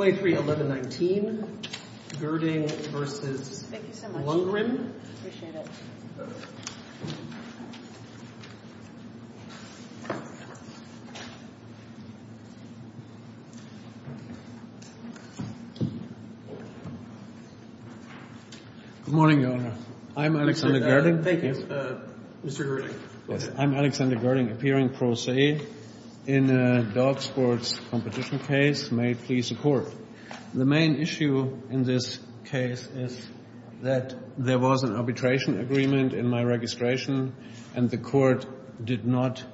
23-11-19, Gerding v. Lundgren Good morning, Your Honor. I'm Alexander Gerding, appearing pro se in a dog sports competition case. May it please the Court. The main issue in this case is that there was an arbitration agreement in my registration, and the Court did not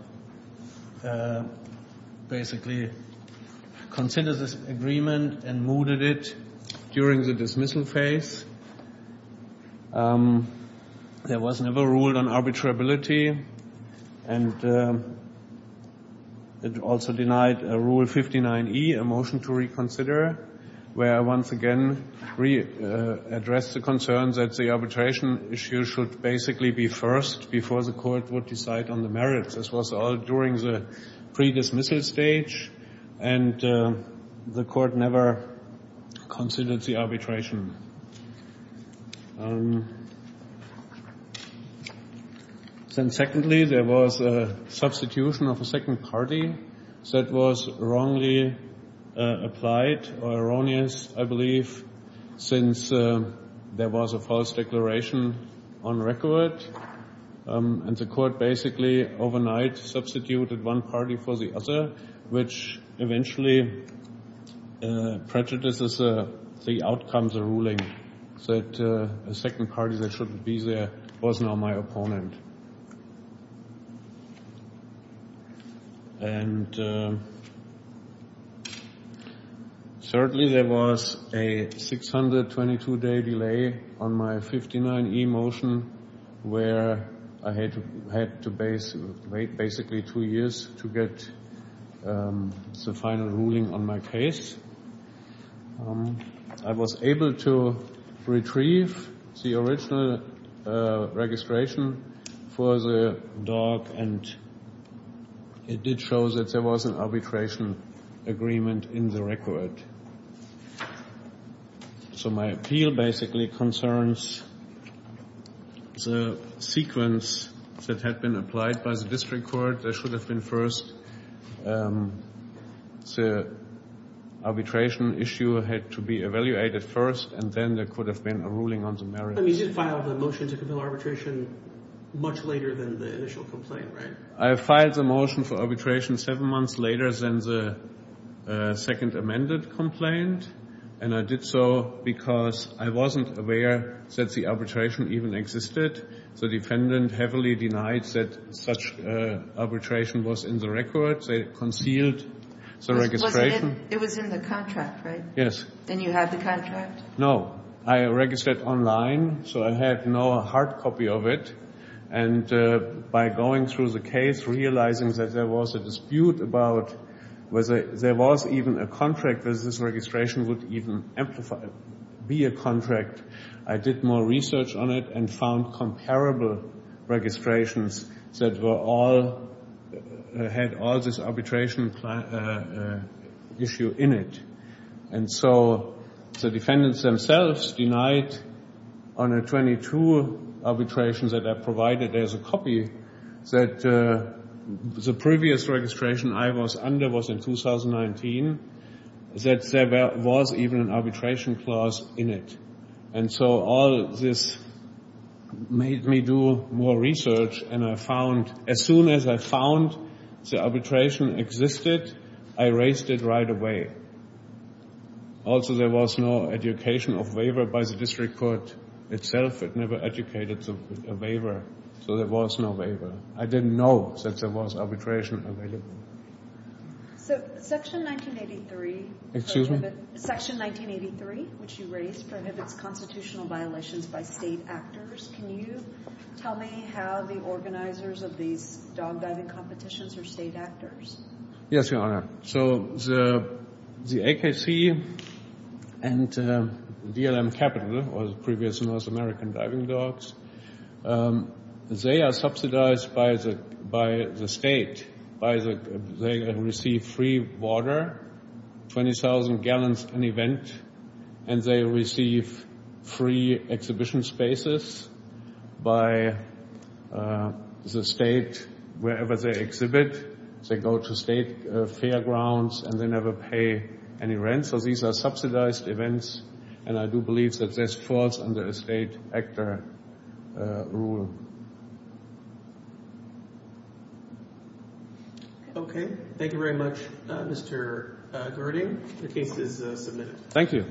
basically consider this agreement and mooted it during the dismissal phase. There was never a rule on arbitrability, and it also denied Rule 59E, a motion to reconsider, where once again we addressed the concern that the arbitration issue should basically be first before the Court would decide on the merits. This was all during the pre-dismissal stage, and the Court never considered the arbitration. Secondly, there was a substitution of a second party that was wrongly applied, or erroneous, I believe, since there was a false declaration on record, and the Court basically overnight substituted one party for the other, which eventually prejudices the outcome of the ruling, that a second party that shouldn't be there was now my opponent. And thirdly, there was a 622-day delay on my 59E motion, where I had to wait basically two years to get the final ruling on my case. I was able to retrieve the original registration for the dog, and it did show that there was an arbitration agreement in the record. So my appeal basically concerns the sequence that had been applied by the District Court. There should have been first the arbitration issue had to be evaluated first, and then there could have been a ruling on the merits. But you did file the motion to compel arbitration much later than the initial complaint, right? I filed the motion for arbitration seven months later than the second amended complaint, and I did so because I wasn't aware that the arbitration even existed. The defendant heavily denied that such arbitration was in the record. They concealed the registration. It was in the contract, right? Yes. And you have the contract? No. I registered online, so I had no hard copy of it. And by going through the case, realizing that there was a dispute about whether there was even a contract that this registration would even be a contract, I did more research on it and found comparable registrations that all had all this arbitration issue in it. And so the defendants themselves denied on a 22 arbitration that I provided as a copy that the previous registration I was under was in 2019, that there was even an arbitration clause in it. And so all this made me do more research, and I found, as soon as I found the arbitration existed, I erased it right away. Also, there was no education of waiver by the district court itself. It never educated a waiver, so there was no waiver. I didn't know that there was arbitration available. So Section 1983 prohibits... Excuse me? Section 1983, which you raised, prohibits constitutional violations by state actors. Can you tell me how the organizers of these dog diving competitions are state actors? Yes, Your Honor. So the AKC and DLM Capital, or the previous North American Diving Dogs, they are subsidized by the state. They receive free water, 20,000 gallons an event, and they receive free exhibition spaces by the state. Wherever they exhibit, they go to state fairgrounds, and they never pay any rent. So these are subsidized events, and I do believe that that's false under a state actor rule. Okay. Thank you very much, Mr. Gerding. The case is submitted. Thank you.